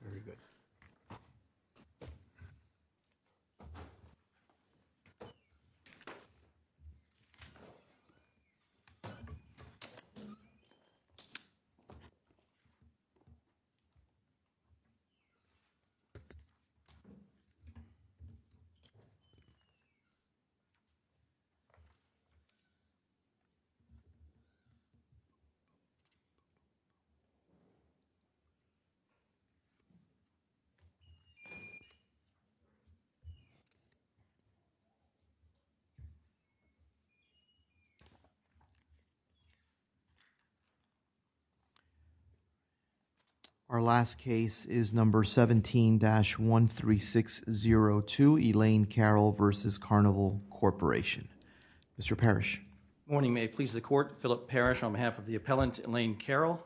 Very good. Our last case is number 17-13602, Elaine Carroll v. Carnival Corporation. Mr. Parrish. Good morning. May it please the Court, Philip Parrish on behalf of the appellant, Elaine Carroll.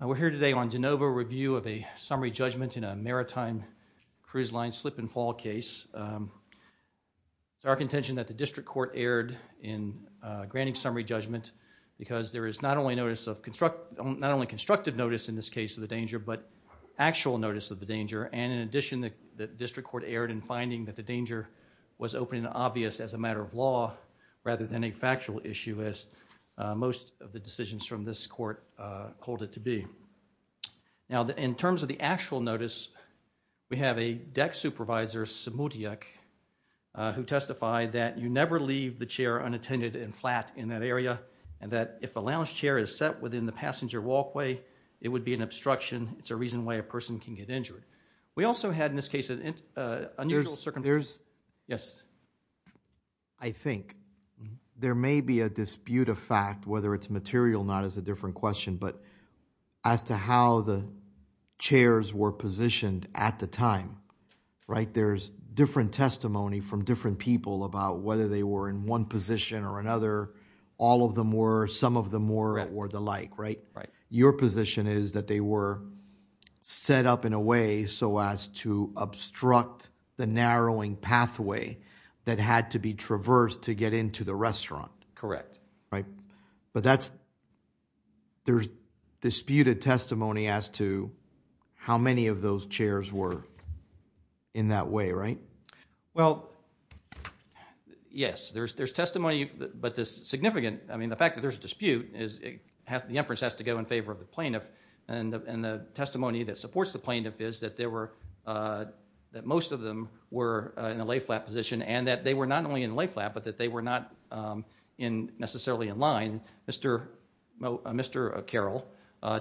We are here today on Genova review of a summary judgment in a maritime cruise line slip and fall case. It is our contention that the District Court erred in granting summary judgment because there is not only constructive notice in this case of the danger, but actual notice of the danger, and in addition, the District Court erred in finding that the danger was open and obvious as a matter of law rather than a factual issue, as most of the decisions from this Court hold it to be. In terms of the actual notice, we have a deck supervisor, Samudiak, who testified that you never leave the chair unattended and flat in that area, and that if a lounge chair is set within the passenger walkway, it would be an obstruction. It is a reason why a person can get injured. We also had in this case an unusual circumstance. I think there may be a dispute of fact, whether it is material or not is a different question, but as to how the chairs were positioned at the time, right, there is different testimony from different people about whether they were in one position or another, all of them were, some of them were, or the like, right? Your position is that they were set up in a way so as to obstruct the narrowing pathway that had to be traversed to get into the restaurant. Correct. Right. But that's, there's disputed testimony as to how many of those chairs were in that way, right? Well, yes, there's testimony, but the significant, I mean, the fact that there's a dispute is the inference has to go in favor of the plaintiff, and the testimony that supports the plaintiff is that there were, that most of them were in a lay-flat position, and that they were not only in lay-flat, but that they were not necessarily in line. Mr. Carroll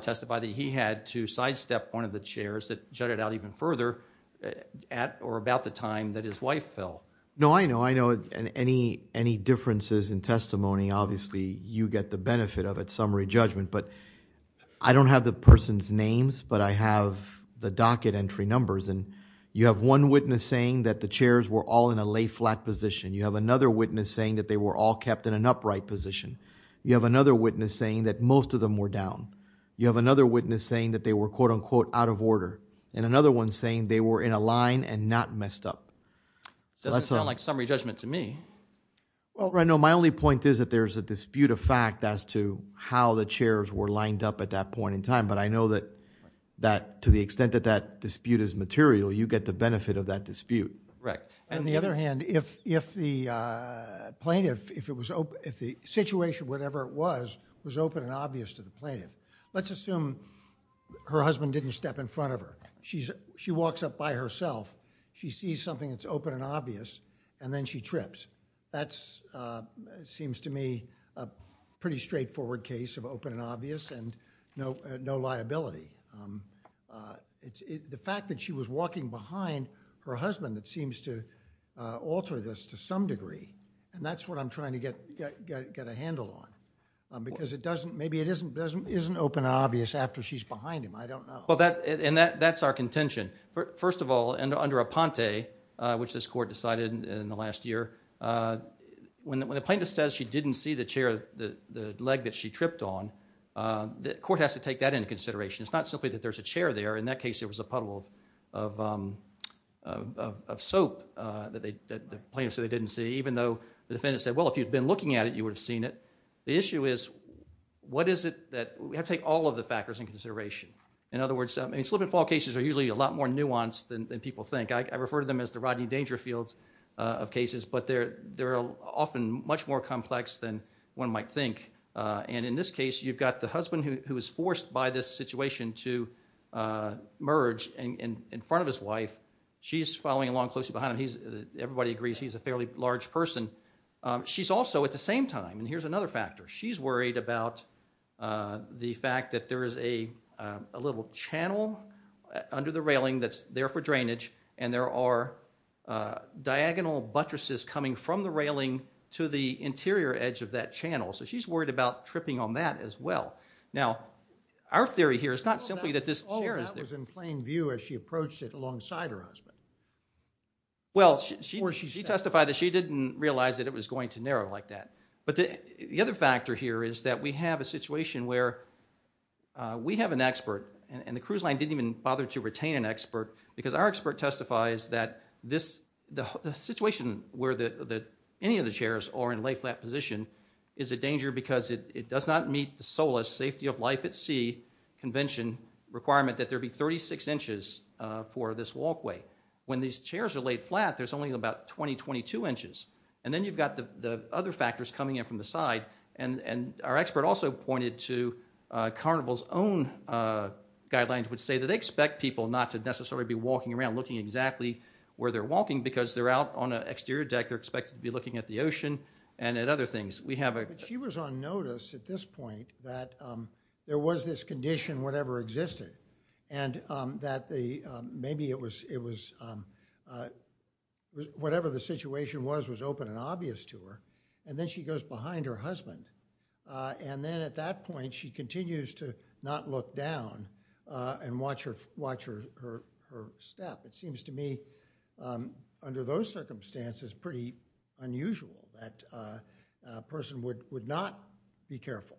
testified that he had to sidestep one of the chairs that jutted out even further at or about the time that his wife fell. No, I know, I know, and any differences in testimony, obviously, you get the benefit of it, summary judgment, but I don't have the person's names, but I have the docket entry numbers, and you have one witness saying that the chairs were all in a lay-flat position. You have another witness saying that they were all kept in an upright position. You have another witness saying that most of them were down. You have another witness saying that they were, quote-unquote, out of order, and another one saying they were in a line and not messed up. It doesn't sound like summary judgment to me. Well, no, my only point is that there's a dispute of fact as to how the chairs were lined up at that point in time, but I know that to the extent that that dispute is material, you get the benefit of that dispute. Correct. On the other hand, if the plaintiff, if the situation, whatever it was, was open and obvious to the plaintiff, let's assume her husband didn't step in front of her. She walks up by herself. She sees something that's open and obvious, and then she trips. That seems to me a pretty straightforward case of open and obvious and no liability. The fact that she was walking behind her husband, it seems to alter this to some degree, and that's what I'm trying to get a handle on, because maybe it isn't open and obvious after she's behind him. I don't know. Well, and that's our contention. First of all, under Aponte, which this court decided in the last year, when the plaintiff says she didn't see the chair, the leg that she tripped on, the court has to take that into consideration. It's not simply that there's a chair there. In that case, there was a puddle of soap that the plaintiff said they didn't see, even though the defendant said, well, if you'd been looking at it, you would have seen it. The issue is, what is it that, we have to take all of the factors into consideration. In other words, slip and fall cases are usually a lot more nuanced than people think. I refer to them as the Rodney Dangerfields of cases, but they're often much more complex than one might think. In this case, you've got the husband who is forced by this situation to merge in front of his wife. She's following along closely behind him. Everybody agrees he's a fairly large person. She's also, at the same time, and here's another factor, she's worried about the fact that there is a little channel under the railing that's there for drainage and there are diagonal buttresses coming from the railing to the interior edge of that channel. She's worried about tripping on that as well. Our theory here is not simply that this chair is there. That was in plain view as she approached it alongside her husband. She testified that she didn't realize that it was going to narrow like that. The other factor here is that we have a situation where we have an expert, and the cruise line didn't even bother to retain an expert, because our expert testifies that the situation where any of the chairs are in lay flat position is a danger because it does not meet the SOLAS safety of life at sea convention requirement that there be 36 inches for this walkway. When these chairs are laid flat, there's only about 20, 22 inches. Then you've got the other factors coming in from the side. Our expert also pointed to Carnival's own guidelines, which say that they expect people not to necessarily be walking around looking exactly where they're walking because they're out on an exterior deck. They're expected to be looking at the ocean and at other things. We have a- She was on notice at this point that there was this condition, whatever existed. And that maybe it was, whatever the situation was, was open and obvious to her. And then she goes behind her husband. And then at that point, she continues to not look down and watch her step. It seems to me, under those circumstances, pretty unusual that a person would not be careful.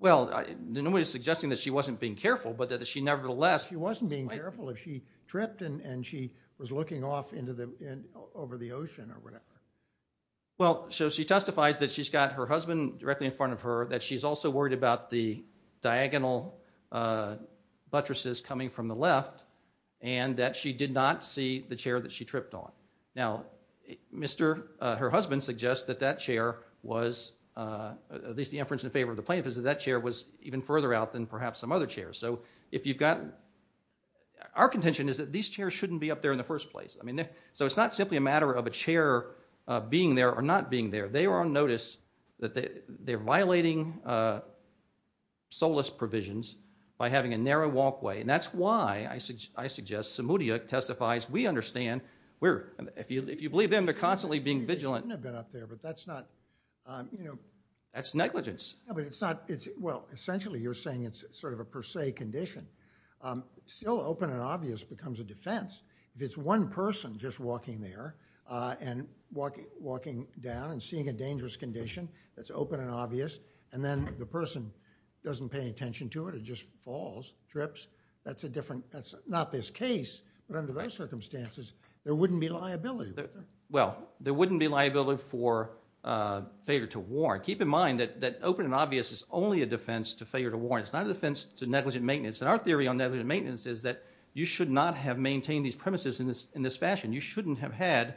Well, nobody's suggesting that she wasn't being careful, but that she nevertheless- She wasn't being careful if she tripped and she was looking off over the ocean or whatever. Well, so she testifies that she's got her husband directly in front of her, that she's also worried about the diagonal buttresses coming from the left, and that she did not see the chair that she tripped on. Now, her husband suggests that that chair was, at least the inference in favor of the plaintiff, is that that chair was even further out than perhaps some other chairs. So if you've got- Our contention is that these chairs shouldn't be up there in the first place. So it's not simply a matter of a chair being there or not being there. They were on notice that they're violating SOLAS provisions by having a narrow walkway. And that's why I suggest Samudia testifies, we understand. If you believe them, they're constantly being vigilant. They shouldn't have been up there, but that's not- That's negligence. Well, essentially you're saying it's sort of a per se condition. Still open and obvious becomes a defense. If it's one person just walking there and walking down and seeing a dangerous condition that's open and obvious, and then the person doesn't pay attention to it, it just falls, drips, that's a different- that's not this case. But under those circumstances, there wouldn't be liability. Well, there wouldn't be liability for failure to warn. Keep in mind that open and obvious is only a defense to failure to warn. It's not a defense to negligent maintenance. And our theory on negligent maintenance is that you should not have maintained these premises in this fashion. You shouldn't have had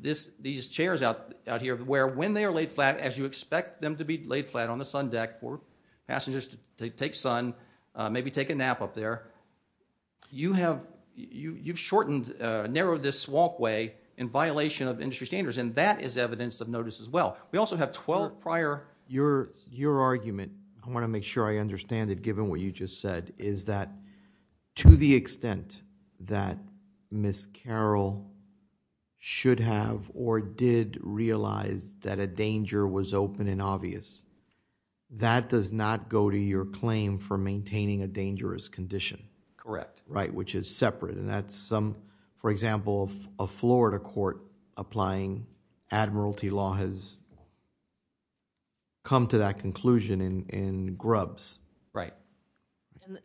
these chairs out here where when they are laid flat, as you expect them to be laid flat on the sun deck for passengers to take sun, maybe take a nap up there, you have shortened, narrowed this walkway in violation of industry standards. And that is evidence of notice as well. We also have 12 prior- Your argument, I want to make sure I understand it given what you just said, is that to the extent that Ms. Carroll should have or did realize that a danger was open and obvious, that does not go to your claim for maintaining a dangerous condition. Correct. Right, which is separate. And that's some, for example, a Florida court applying admiralty law has come to that conclusion in grubs. Right.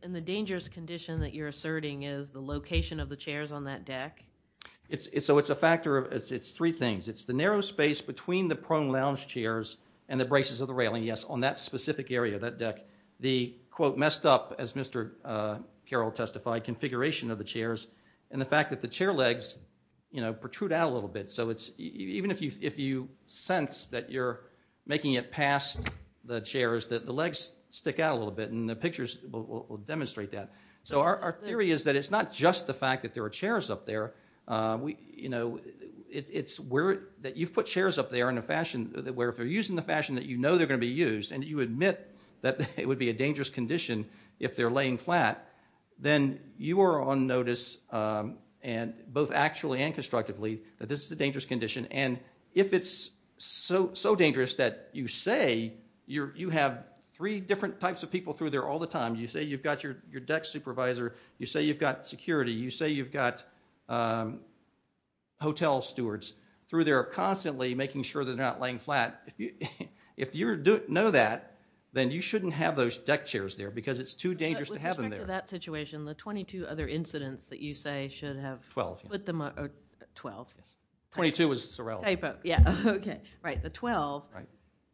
And the dangerous condition that you're asserting is the location of the chairs on that deck? So, it's a factor of- it's three things. It's the narrow space between the prone lounge chairs and the braces of the railing. Yes, on that specific area, that deck. The, quote, messed up, as Mr. Carroll testified, configuration of the chairs and the fact that the chair legs protrude out a little bit. So, even if you sense that you're making it past the chairs, that the legs stick out a little bit and the pictures will demonstrate that. So, our theory is that it's not just the fact that there are chairs up there. You know, it's where- that you've put chairs up there in a fashion where if they're used in the fashion that you know they're going to be used and you admit that it would be a dangerous condition if they're laying flat, then you are on notice, both actually and constructively, that this is a dangerous condition. And if it's so dangerous that you say- you have three different types of people through there all the time. You say you've got your deck supervisor. You say you've got security. You say you've got hotel stewards through there constantly, making sure that they're not laying flat. If you know that, then you shouldn't have those deck chairs there because it's too dangerous to have them there. With respect to that situation, the 22 other incidents that you say should have- Twelve. Twelve. Right, the 12.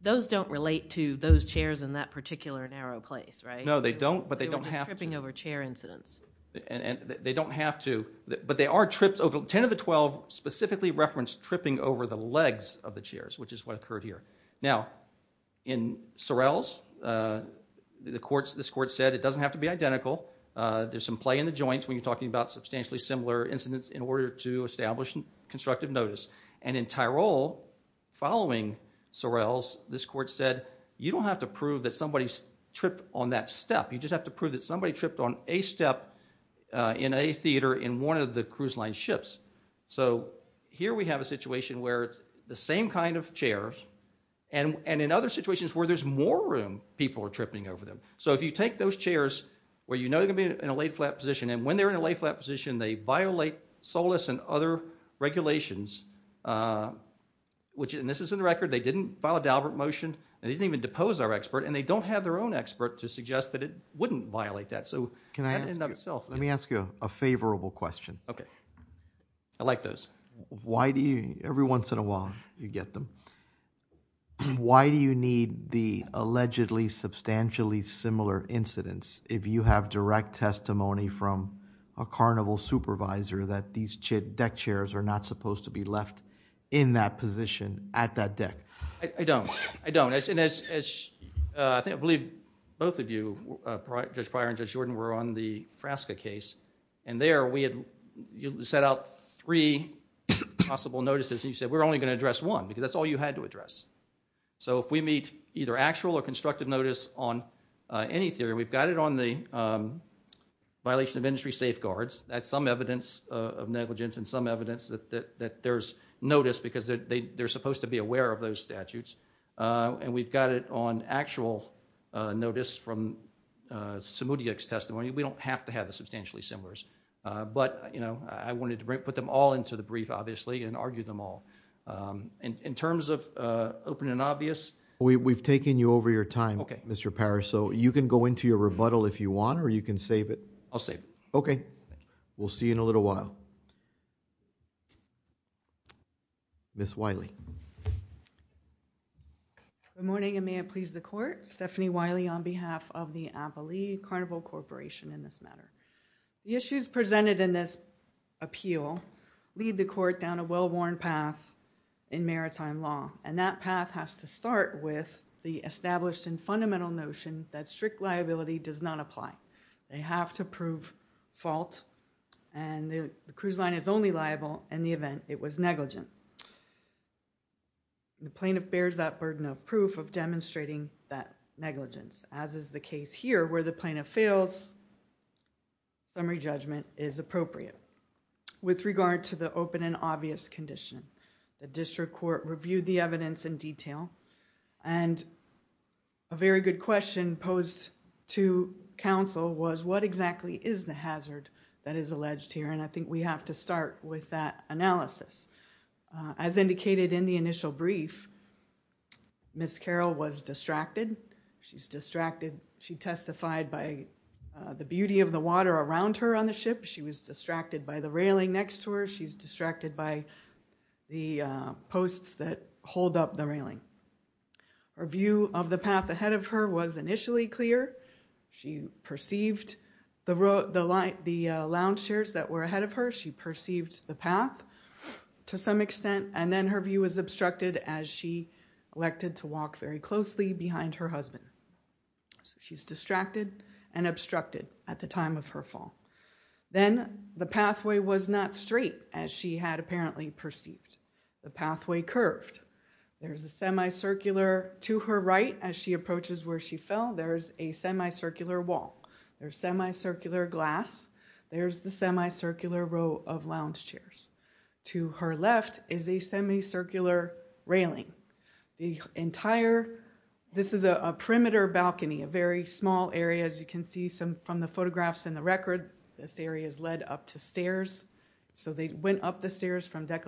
Those don't relate to those chairs in that particular narrow place, right? No, they don't, but they don't have to. They're tripping over chair incidents. They don't have to, but they are tripped over- 10 of the 12 specifically reference tripping over the legs of the chairs, which is what occurred here. Now, in Sorrell's, this court said it doesn't have to be identical. There's some play in the joints when you're talking about substantially similar incidents in order to establish constructive notice. And in Tyrol, following Sorrell's, this court said you don't have to prove that somebody tripped on that step. You just have to prove that somebody tripped on a step in a theater in one of the cruise line ships. So here we have a situation where it's the same kind of chairs and in other situations where there's more room, people are tripping over them. So if you take those chairs where you know they're going to be in a laid flat position and when they're in a laid flat position, they violate SOLAS and other regulations, which- and this is in the record- they didn't file a Daubert motion and they didn't even depose our expert and they don't have their own expert to suggest that it wouldn't violate that. So that in and of itself- Let me ask you a favorable question. Okay. I like those. Every once in a while, you get them. Why do you need the allegedly substantially similar incidents if you have direct testimony from a carnival supervisor that these deck chairs are not supposed to be left in that position at that deck? I don't. I don't. I think I believe both of you, Judge Pryor and Judge Jordan, were on the Frasca case and there we had set out three possible notices and you said we're only going to address one because that's all you had to address. So if we meet either actual or constructive notice on any theory, we've got it on the violation of industry safeguards. That's some evidence of negligence and some evidence that there's notice because they're supposed to be aware of those statutes. And we've got it on actual notice from Samudiak's testimony. We don't have to have the substantially similars. But, you know, I wanted to put them all into the brief, obviously, and argue them all. In terms of open and obvious- We've taken you over your time, Mr. Parrish, so you can go into your rebuttal if you want or you can save it. I'll save it. Okay. We'll see you in a little while. Ms. Wiley. Good morning, and may it please the Court. Stephanie Wiley on behalf of the Abilene Carnival Corporation in this matter. The issues presented in this appeal lead the Court down a well-worn path in maritime law, and that path has to start with the established and fundamental notion that strict liability does not apply. They have to prove fault and the cruise line is only liable in the event it was negligent. The plaintiff bears that burden of proof of demonstrating that negligence, as is the case here where the plaintiff fails summary judgment is appropriate. With regard to the open and obvious condition, the District Court reviewed the evidence in detail and a very good question posed to counsel was what exactly is the hazard that is alleged here, and I think we have to start with that analysis. As indicated in the initial brief, Ms. Carroll was distracted. She's distracted. She testified by the beauty of the water around her on the ship. She was distracted by the railing next to her. She's distracted by the posts that hold up the railing. Her view of the path ahead of her was initially clear. She perceived the lounge chairs that were ahead of her. She perceived the path to some extent, and then her view was obstructed as she elected to walk very closely behind her husband. She's distracted and obstructed at the time of her fall. Then the pathway was not straight as she had apparently perceived. The pathway curved. There's a semicircular to her right as she approaches where she fell. There's a semicircular glass. There's the semicircular row of lounge chairs. To her left is a semicircular railing. This is a perimeter balcony, a very small area. As you can see from the photographs and the record, this area is led up to stairs. They went up the stairs from deck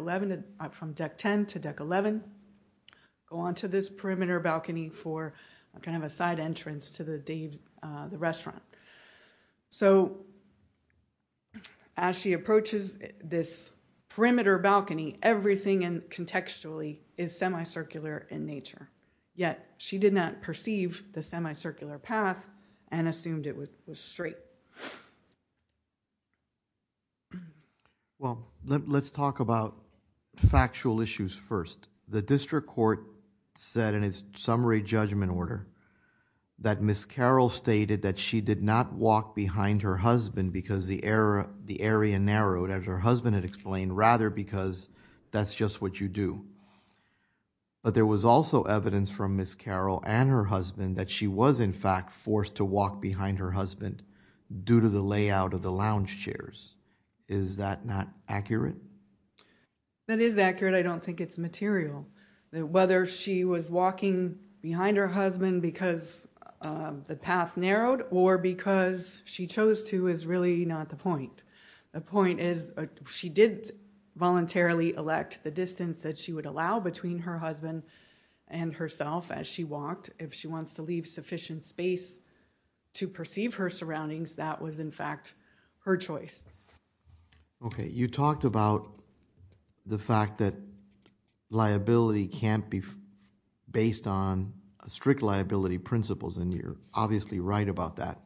10 to deck 11, go on to this perimeter balcony for a side entrance to the restaurant. As she approaches this perimeter balcony, everything contextually is semicircular in nature, yet she did not perceive the semicircular path and assumed it was straight. Let's talk about factual issues first. The district court said in its summary judgment order that Ms. Carroll stated that she did not walk behind her husband because the area narrowed, as her husband had explained, rather because that's just what you do. But there was also evidence from Ms. Carroll and her husband that she was in fact forced to walk behind her husband due to the layout of the lounge chairs. Is that not accurate? That is accurate. I don't think it's material. Whether she was walking behind her husband because the path narrowed or because she chose to is really not the point. The point is she did voluntarily elect the distance that she would allow between her husband and herself as she walked. If she wants to leave sufficient space to perceive her surroundings, that was in fact her choice. You talked about the fact that liability can't be based on strict liability principles and you're obviously right about that.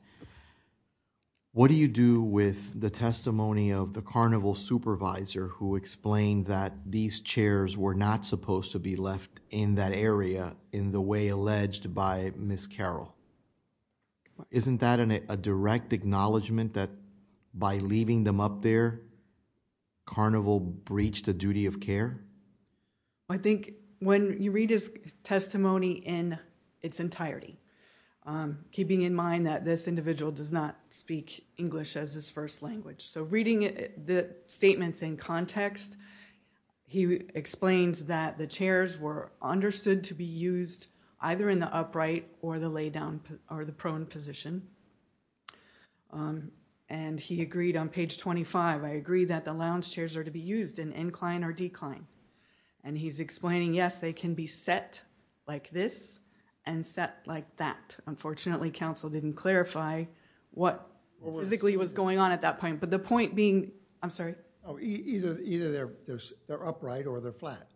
What do you do with the testimony of the carnival supervisor who explained that these chairs were not supposed to be left in that area in the way alleged by Ms. Carroll? Isn't that a direct acknowledgement that by leaving them up there carnival breached the duty of care? When you read his testimony in its entirety keeping in mind that this individual does not speak English as his first language. Reading the statements in context he explains that the chairs were understood to be used either in the upright or the prone position. He agreed on page 25, I agree that the lounge chairs are to be used in incline or decline. He's explaining yes, they can be set like this and set like that. Unfortunately, counsel didn't clarify what physically was going on at that point. Either they're upright or they're flat.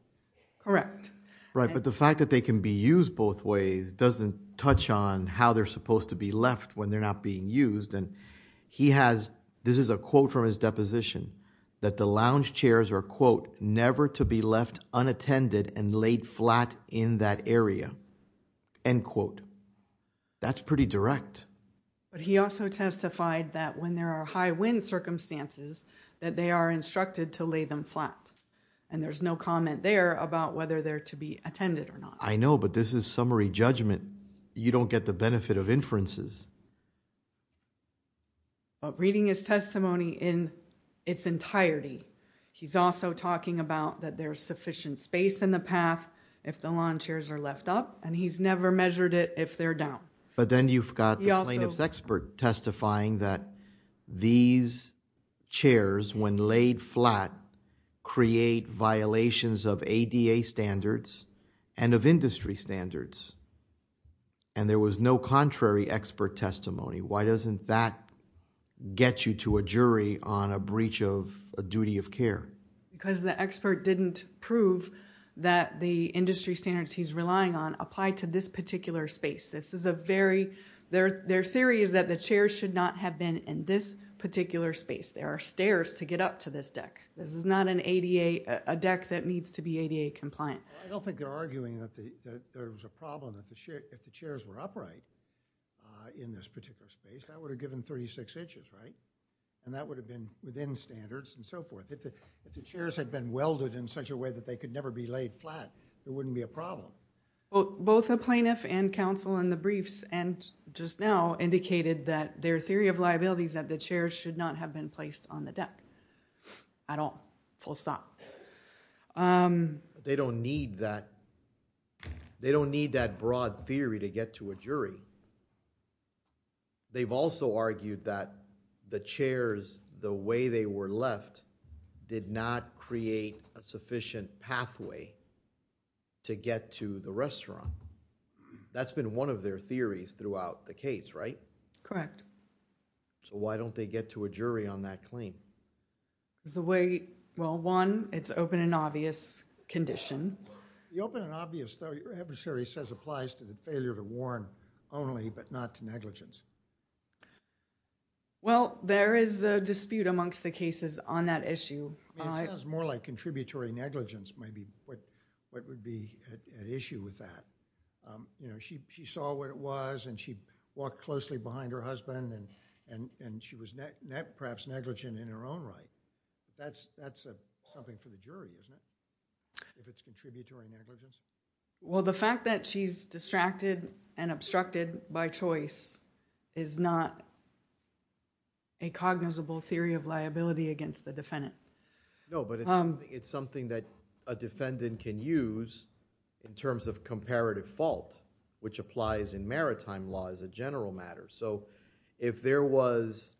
Correct. The fact that they can be used both ways doesn't touch on how they're supposed to be left when they're not being used. This is a quote from his deposition that the lounge chairs are never to be left unattended and laid flat in that area. That's pretty direct. He also testified that when there are high wind circumstances that they are instructed to lay them flat and there's no comment there about whether they're to be attended or not. I know but this is summary judgment. You don't get the benefit of inferences. Reading his testimony in its entirety, he's also talking about that there's sufficient space in the path if the lounge chairs are left up and he's never measured it if they're down. But then you've got the plaintiff's expert testifying that these chairs when laid flat create violations of ADA standards and of industry standards and there was no contrary expert testimony. Why doesn't that get you to a jury on a breach of a duty of care? Because the expert didn't prove that the industry standards he's relying on apply to this particular space. Their theory is that the chairs should not have been in this particular space. There are stairs to get up to this deck. This is not a deck that needs to be ADA compliant. I don't think they're arguing that there's a problem if the chairs are in this particular space. That would have given 36 inches, right? And that would have been within standards and so forth. If the chairs had been welded in such a way that they could never be laid flat, it wouldn't be a problem. Both the plaintiff and counsel in the briefs and just now indicated that their theory of liabilities that the chairs should not have been placed on the deck at all. Full stop. They don't need that. They don't need that They've also argued that the chairs, the way they were left, did not create a sufficient pathway to get to the restaurant. That's been one of their theories throughout the case, right? Correct. Why don't they get to a jury on that claim? One, it's open and obvious condition. The open and obvious theory applies to failure to warn only, but not to negligence. Well, there is a dispute amongst the cases on that issue. It sounds more like contributory negligence might be what would be at issue with that. She saw what it was and she walked closely behind her husband and she was perhaps negligent in her own right. That's something for the jury, isn't it? If it's contributory negligence. The fact that she's distracted and obstructed by choice is not a cognizable theory of liability against the defendant. It's something that a defendant can use in terms of comparative fault, which applies in maritime law as a general matter. If there was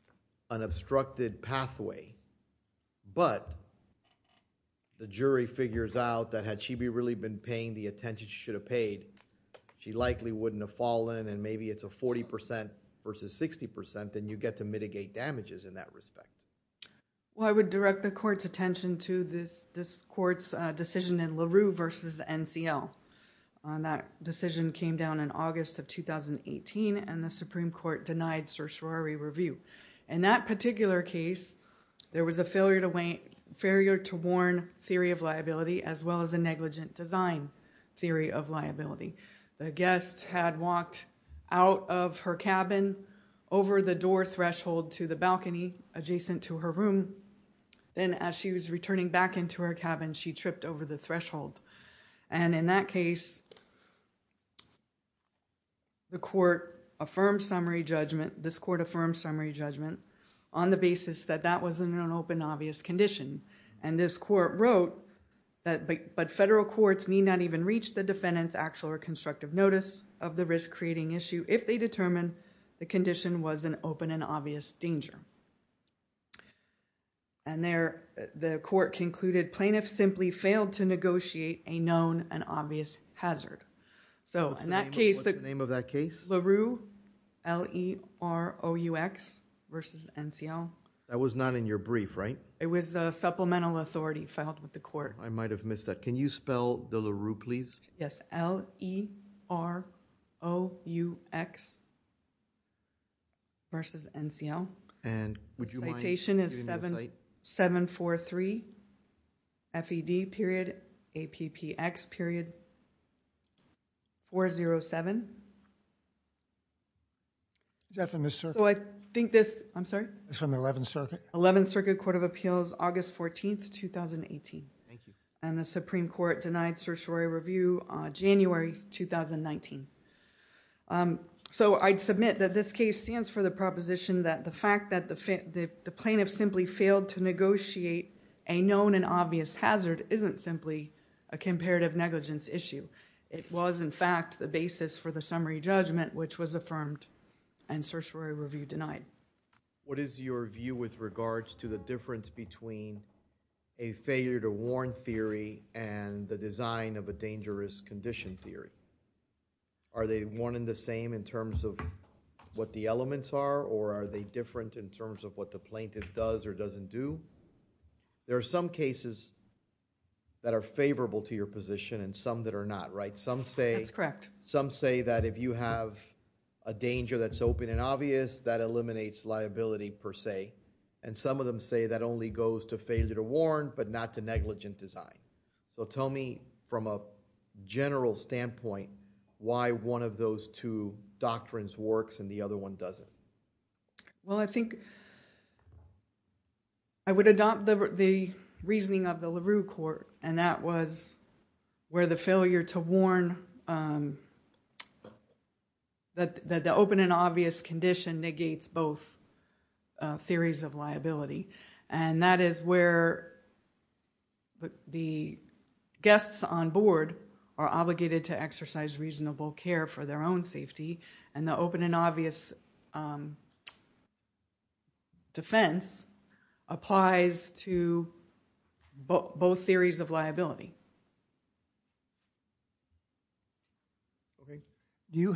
an obstructed pathway, but the jury figures out that had she really been paying the attention she should have paid, she likely wouldn't have fallen and maybe it's a 40% versus 60%, then you get to mitigate damages in that respect. I would direct the court's attention to this court's decision in LaRue versus NCL. That decision came down in August of 2018 and the Supreme Court denied certiorari review. In that particular case, there was a failure to warn theory of liability as well as a negligent design theory of liability. The guest had walked out of her cabin over the door threshold to the balcony adjacent to her room. Then as she was returning back into her cabin, she tripped over the threshold. In that case, the court affirmed summary judgment, this court affirmed summary judgment on the basis that that was an open obvious condition. This court wrote, but federal courts need not even reach the defendant's actual or constructive notice of the risk-creating issue if they determine the condition was an open and obvious danger. The court concluded plaintiffs simply failed to negotiate a known and obvious hazard. In that case, LaRue, L-E-R-O-U-X versus NCL. That was not in your brief, right? It was supplemental authority filed with the court. I might have missed that. Can you spell the LaRue please? L-E-R-O-U-X versus NCL. Citation is 743 FED period APPX period 407. Is that from the circuit? I think this, I'm sorry? It's from the 11th Circuit. 11th Circuit Court of Appeals, August 14th 2018. The Supreme Court denied certiorari review on January 2019. I'd submit that this case stands for the proposition that the fact that the plaintiff simply failed to negotiate a known and obvious hazard isn't simply a comparative negligence issue. It was in fact the basis for the summary judgment which was affirmed and certiorari review denied. What is your view with regards to the difference between a failure to warn theory and the design of a dangerous condition theory? Are they one and the same in terms of what the elements are or are they different in terms of what the plaintiff does or doesn't do? There are some cases that are favorable to your position and some that are not. Some say that if you have a danger that's open and obvious, that eliminates liability per se. Some of them say that only goes to failure to warn but not to negligent design. Tell me from a general standpoint why one of those two doctrines works and the other one doesn't. I think I would adopt the reasoning of the LaRue court and that was where the failure to warn that the open and obvious condition negates both theories of liability. That is where the guests on board are obligated to exercise reasonable care for their own safety and the open and obvious defense applies to both theories of liability. You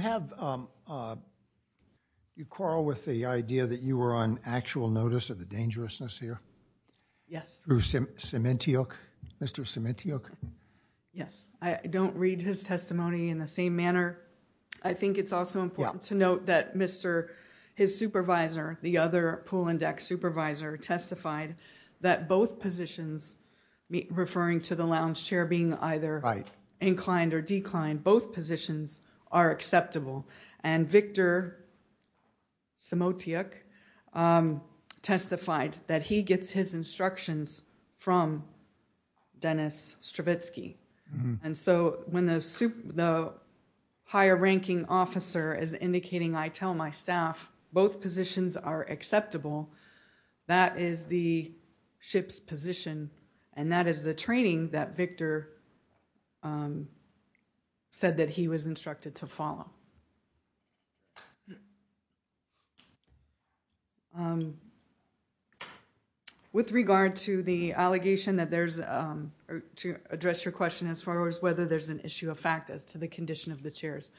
quarrel with the idea that you were on actual notice of the dangerousness here? Yes. Mr. Sementiuk? Yes. I don't read his testimony in the same manner. I think it's also important to note that his supervisor, the other pool and deck supervisor testified that both positions referring to the lounge chair being either inclined or declined, both positions are acceptable and Victor Sementiuk testified that he gets his instructions from Dennis Stravitzky. When the higher ranking officer is indicating I tell my staff both positions are acceptable that is the ship's position and that is the training that Victor said that he was instructed to follow. With regard to the allegation that there's to address your question as far as whether there's an issue of fact as to the condition of the chairs,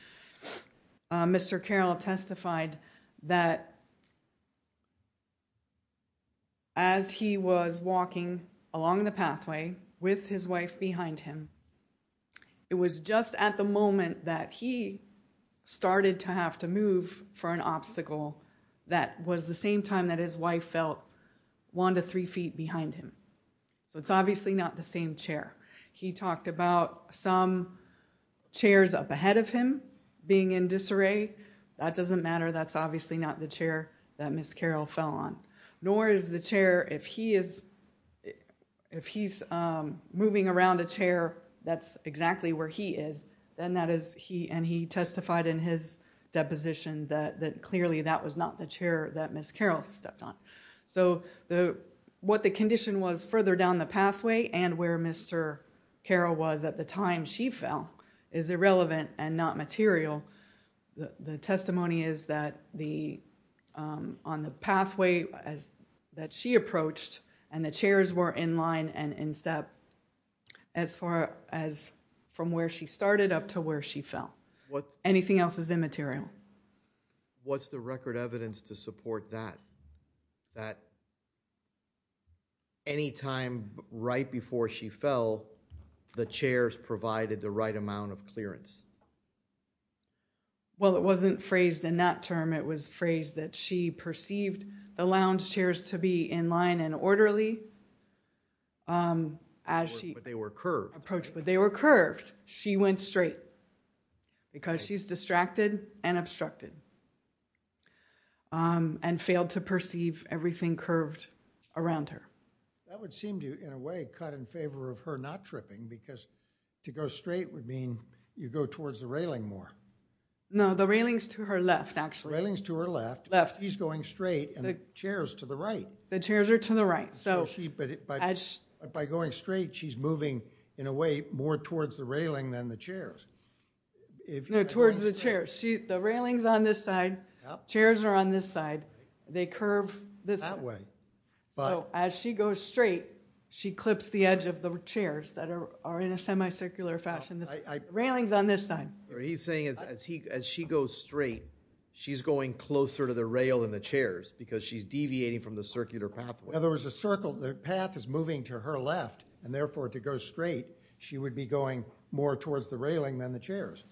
Mr. Carroll testified that as he was walking along the pathway with his wife behind him, it was just at the moment that he started to have to move for an obstacle that was the same time that his wife felt one to three feet behind him. It's obviously not the same chair. He talked about some being in disarray. That doesn't matter. That's obviously not the chair that Ms. Carroll fell on. Nor is the chair if he's moving around a chair that's exactly where he is and he testified in his deposition that clearly that was not the chair that Ms. Carroll stepped on. What the condition was further down the pathway and where Mr. Carroll was at the time she fell was immaterial. The testimony is that on the pathway that she approached and the chairs were in line and in step as far as from where she started up to where she fell. Anything else is immaterial. What's the record evidence to support that? That any time right before she fell, the chairs provided the right amount of clearance. It wasn't phrased in that term. It was phrased that she perceived the lounge chairs to be in line and orderly as she approached, but they were curved. She went straight because she's distracted and obstructed and failed to perceive everything curved around her. That would seem to, in a way, cut in favor of her not tripping because to go straight would mean you go towards the railing more. The railing is to her left. She's going straight and the chairs are to the right. By going straight, she's moving in a way more towards the railing than the chairs. The railing is on this side. Chairs are on this side. They curve this way. As she goes straight, she's going closer to the rail than the chairs because she's deviating from the circular pathway. The path is moving to her left and, therefore, to go straight, she would be going more towards the railing than the chairs.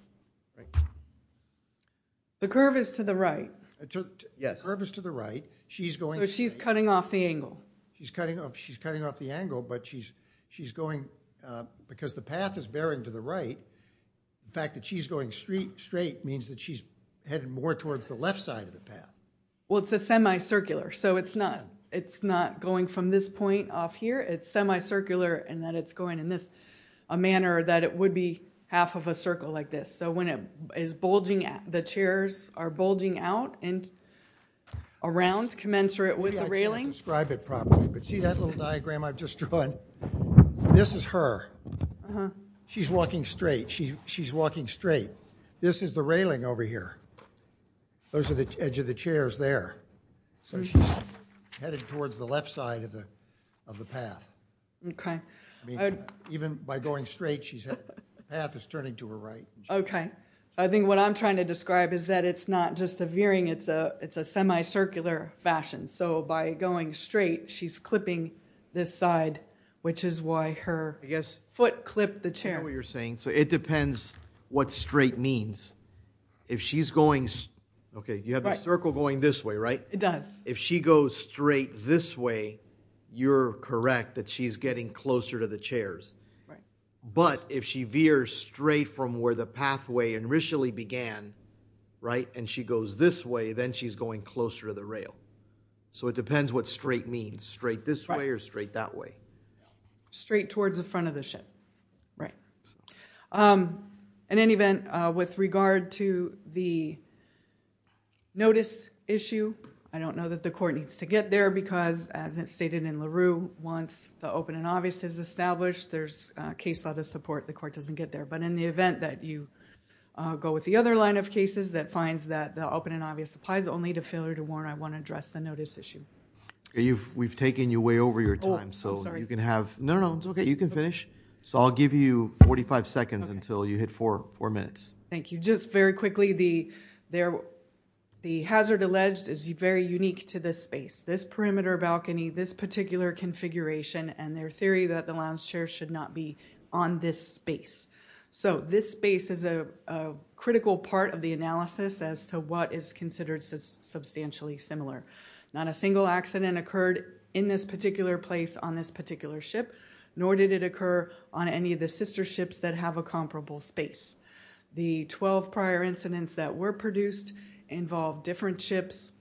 The curve is to the right. The curve is to the right. She's going straight. She's cutting off the angle, but she's going straight. The railing is on this side. She's going because the path is bearing to the right. The fact that she's going straight means that she's headed more towards the left side of the path. It's a semicircular. It's not going from this point off here. It's semicircular in that it's going in a manner that it would be half of a circle like this. When the chairs are bulging out and around commensurate with the railing. I can't describe it properly, but see that little diagram I've just drawn? This is her. She's walking straight. This is the railing over here. Those are the edge of the chairs there. She's headed towards the left side of the path. Even by going straight, the path is turning to her right. What I'm trying to describe is that it's not just a veering. It's a semicircular fashion. By going straight, she's clipping this side which is why her foot clipped the chair. It depends what straight means. You have your circle going this way, right? It does. If she goes straight this way, you're correct that she's getting closer to the chairs. If she veers straight from where the pathway initially began and she goes this way, then she's going closer to the rail. It depends what straight means. Straight this way or straight that way? Straight towards the front of the ship. In any event, with regard to the notice issue, I don't know that the court needs to get there because as it's stated in LaRue, once the open and obvious is established, there's case law to support the court doesn't get there. In the event that you go with the other line of supplies only to failure to warn, I want to address the notice issue. We've taken you way over your time. You can finish. I'll give you 45 seconds until you hit four minutes. Just very quickly, the hazard alleged is very unique to this space. This perimeter balcony, this particular configuration and their theory that the lounge chair should not be on this space. This space is a critical part of the analysis as to what is considered substantially similar. Not a single accident occurred in this particular place on this particular ship, nor did it occur on any of the sister ships that have a comparable space. The 12 prior incidents that were produced involved different ships,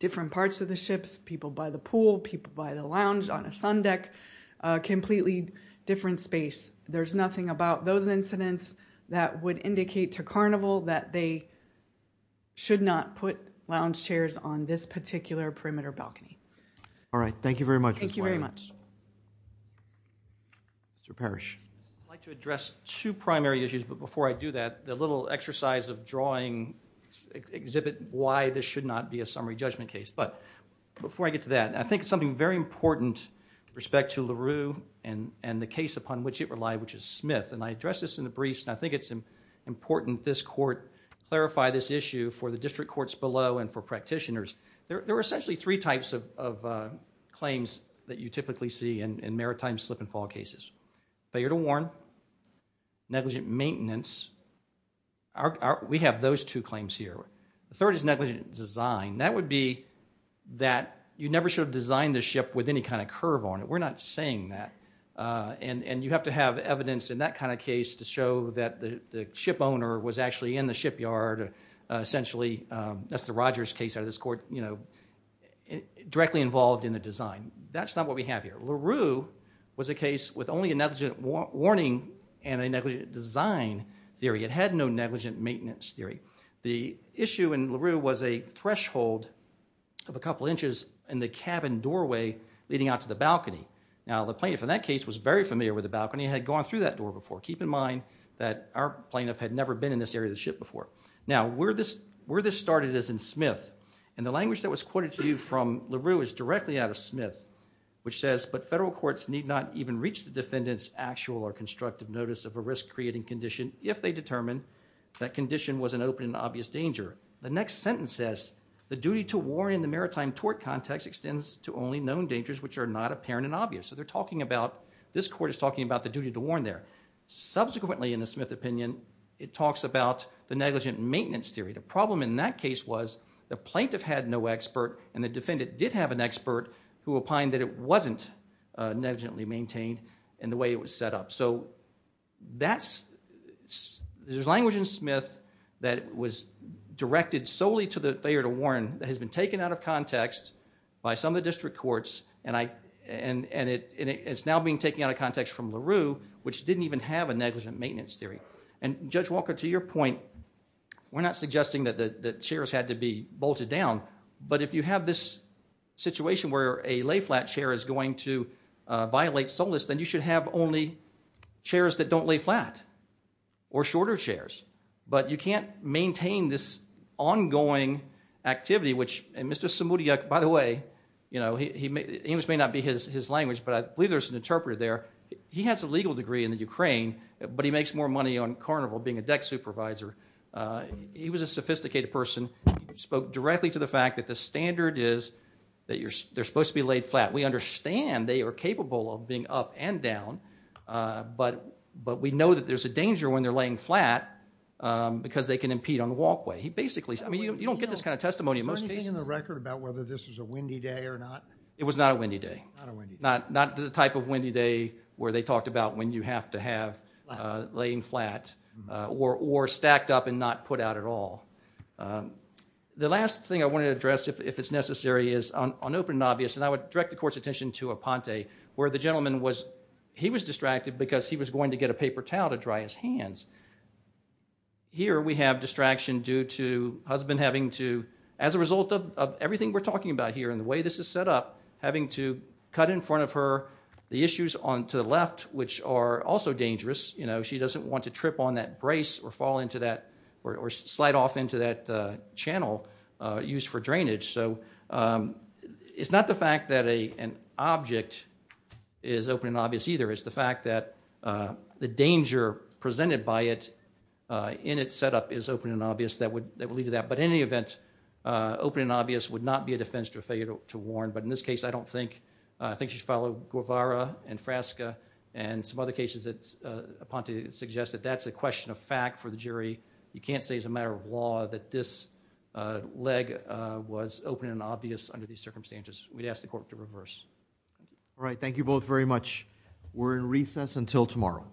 different parts of the ships, people by the pool, people by the lounge on a sun deck, completely different space. There's nothing about those incidents that would indicate to Carnival that they should not put lounge chairs on this particular perimeter balcony. All right. Thank you very much. Thank you very much. Mr. Parrish. I'd like to address two primary issues, but before I do that, the little exercise of drawing exhibit why this should not be a summary judgment case. Before I get to that, I think it's something very important with respect to LaRue and the case upon which it relies, which is Smith. I addressed this in the briefs, and I think it's important this court clarify this issue for the district courts below and for practitioners. There are essentially three types of claims that you typically see in maritime slip and fall cases. Failure to warn, negligent maintenance. We have those two claims here. The third is negligent design. That would be that you never should have designed this ship with any kind of curve on it. We're not saying that. You have to have evidence in that kind of case to show that the ship owner was actually in the shipyard essentially. That's the Rogers case out of this court. Directly involved in the design. That's not what we have here. LaRue was a case with only a negligent warning and a negligent design theory. It had no negligent maintenance theory. The issue in LaRue was a threshold of a couple inches in the cabin doorway leading out to the balcony. The plaintiff in that case was very familiar with the balcony. He had gone through that door before. Keep in mind that our plaintiff had never been in this area of the ship before. Where this started is in Smith. The language that was quoted to you from LaRue is directly out of Smith which says, but federal courts need not even reach the defendant's actual or constructive notice of a risk creating condition if they determine that condition was an open and obvious danger. The next sentence says, the duty to warn in the maritime tort context extends to only known dangers which are not apparent and obvious. This court is talking about the duty to warn there. Subsequently in the Smith opinion it talks about the negligent maintenance theory. The problem in that case was the plaintiff had no expert and the defendant did have an expert who opined that it wasn't negligently maintained in the way it was set up. There's language in Smith that was directed solely to the failure to warn that has been taken out of context by some of the district courts and it's now being taken out of context from LaRue which didn't even have a negligent maintenance theory. Judge Walker, to your point we're not suggesting that the chairs had to be bolted down but if you have this situation where a lay flat chair is going to violate solace then you should have only chairs that don't lay flat or shorter chairs. You can't maintain this ongoing activity which Mr. Samoudiak, by the way English may not be his language but I believe there's an interpreter there he has a legal degree in the Ukraine but he makes more money on Carnival being a deck supervisor. He was a sophisticated person. Spoke directly to the fact that the standard is that they're supposed to be laid flat. We understand they are capable of being up and down but we know that there's a danger when they're laying flat because they can impede on the walkway. You don't get this kind of testimony in most cases. Is there anything in the record about whether this was a windy day or not? It was not a windy day. Not the type of windy day where they talked about when you have to have laying flat or stacked up and not put out at all. The last thing I wanted to address if it's necessary is on open and obvious and I would direct the court's attention to Aponte where the gentleman was distracted because he was going to get a paper in his hands. Here we have distraction due to husband having to, as a result of everything we're talking about here and the way this is set up, having to cut in front of her the issues to the left which are also dangerous. She doesn't want to trip on that brace or slide off into that channel used for drainage. It's not the fact that an object is open and obvious either. It's the fact that the danger presented by it in its setup is open and obvious that would lead to that. In any event, open and obvious would not be a defense to a failure to warn. In this case, I don't think she should follow Guevara and Frasca and some other cases that Aponte suggested. That's a question of fact for the jury. You can't say as a matter of law that this leg was open and obvious under these circumstances. We'd ask the court to reverse. Thank you both very much. We're in recess until tomorrow.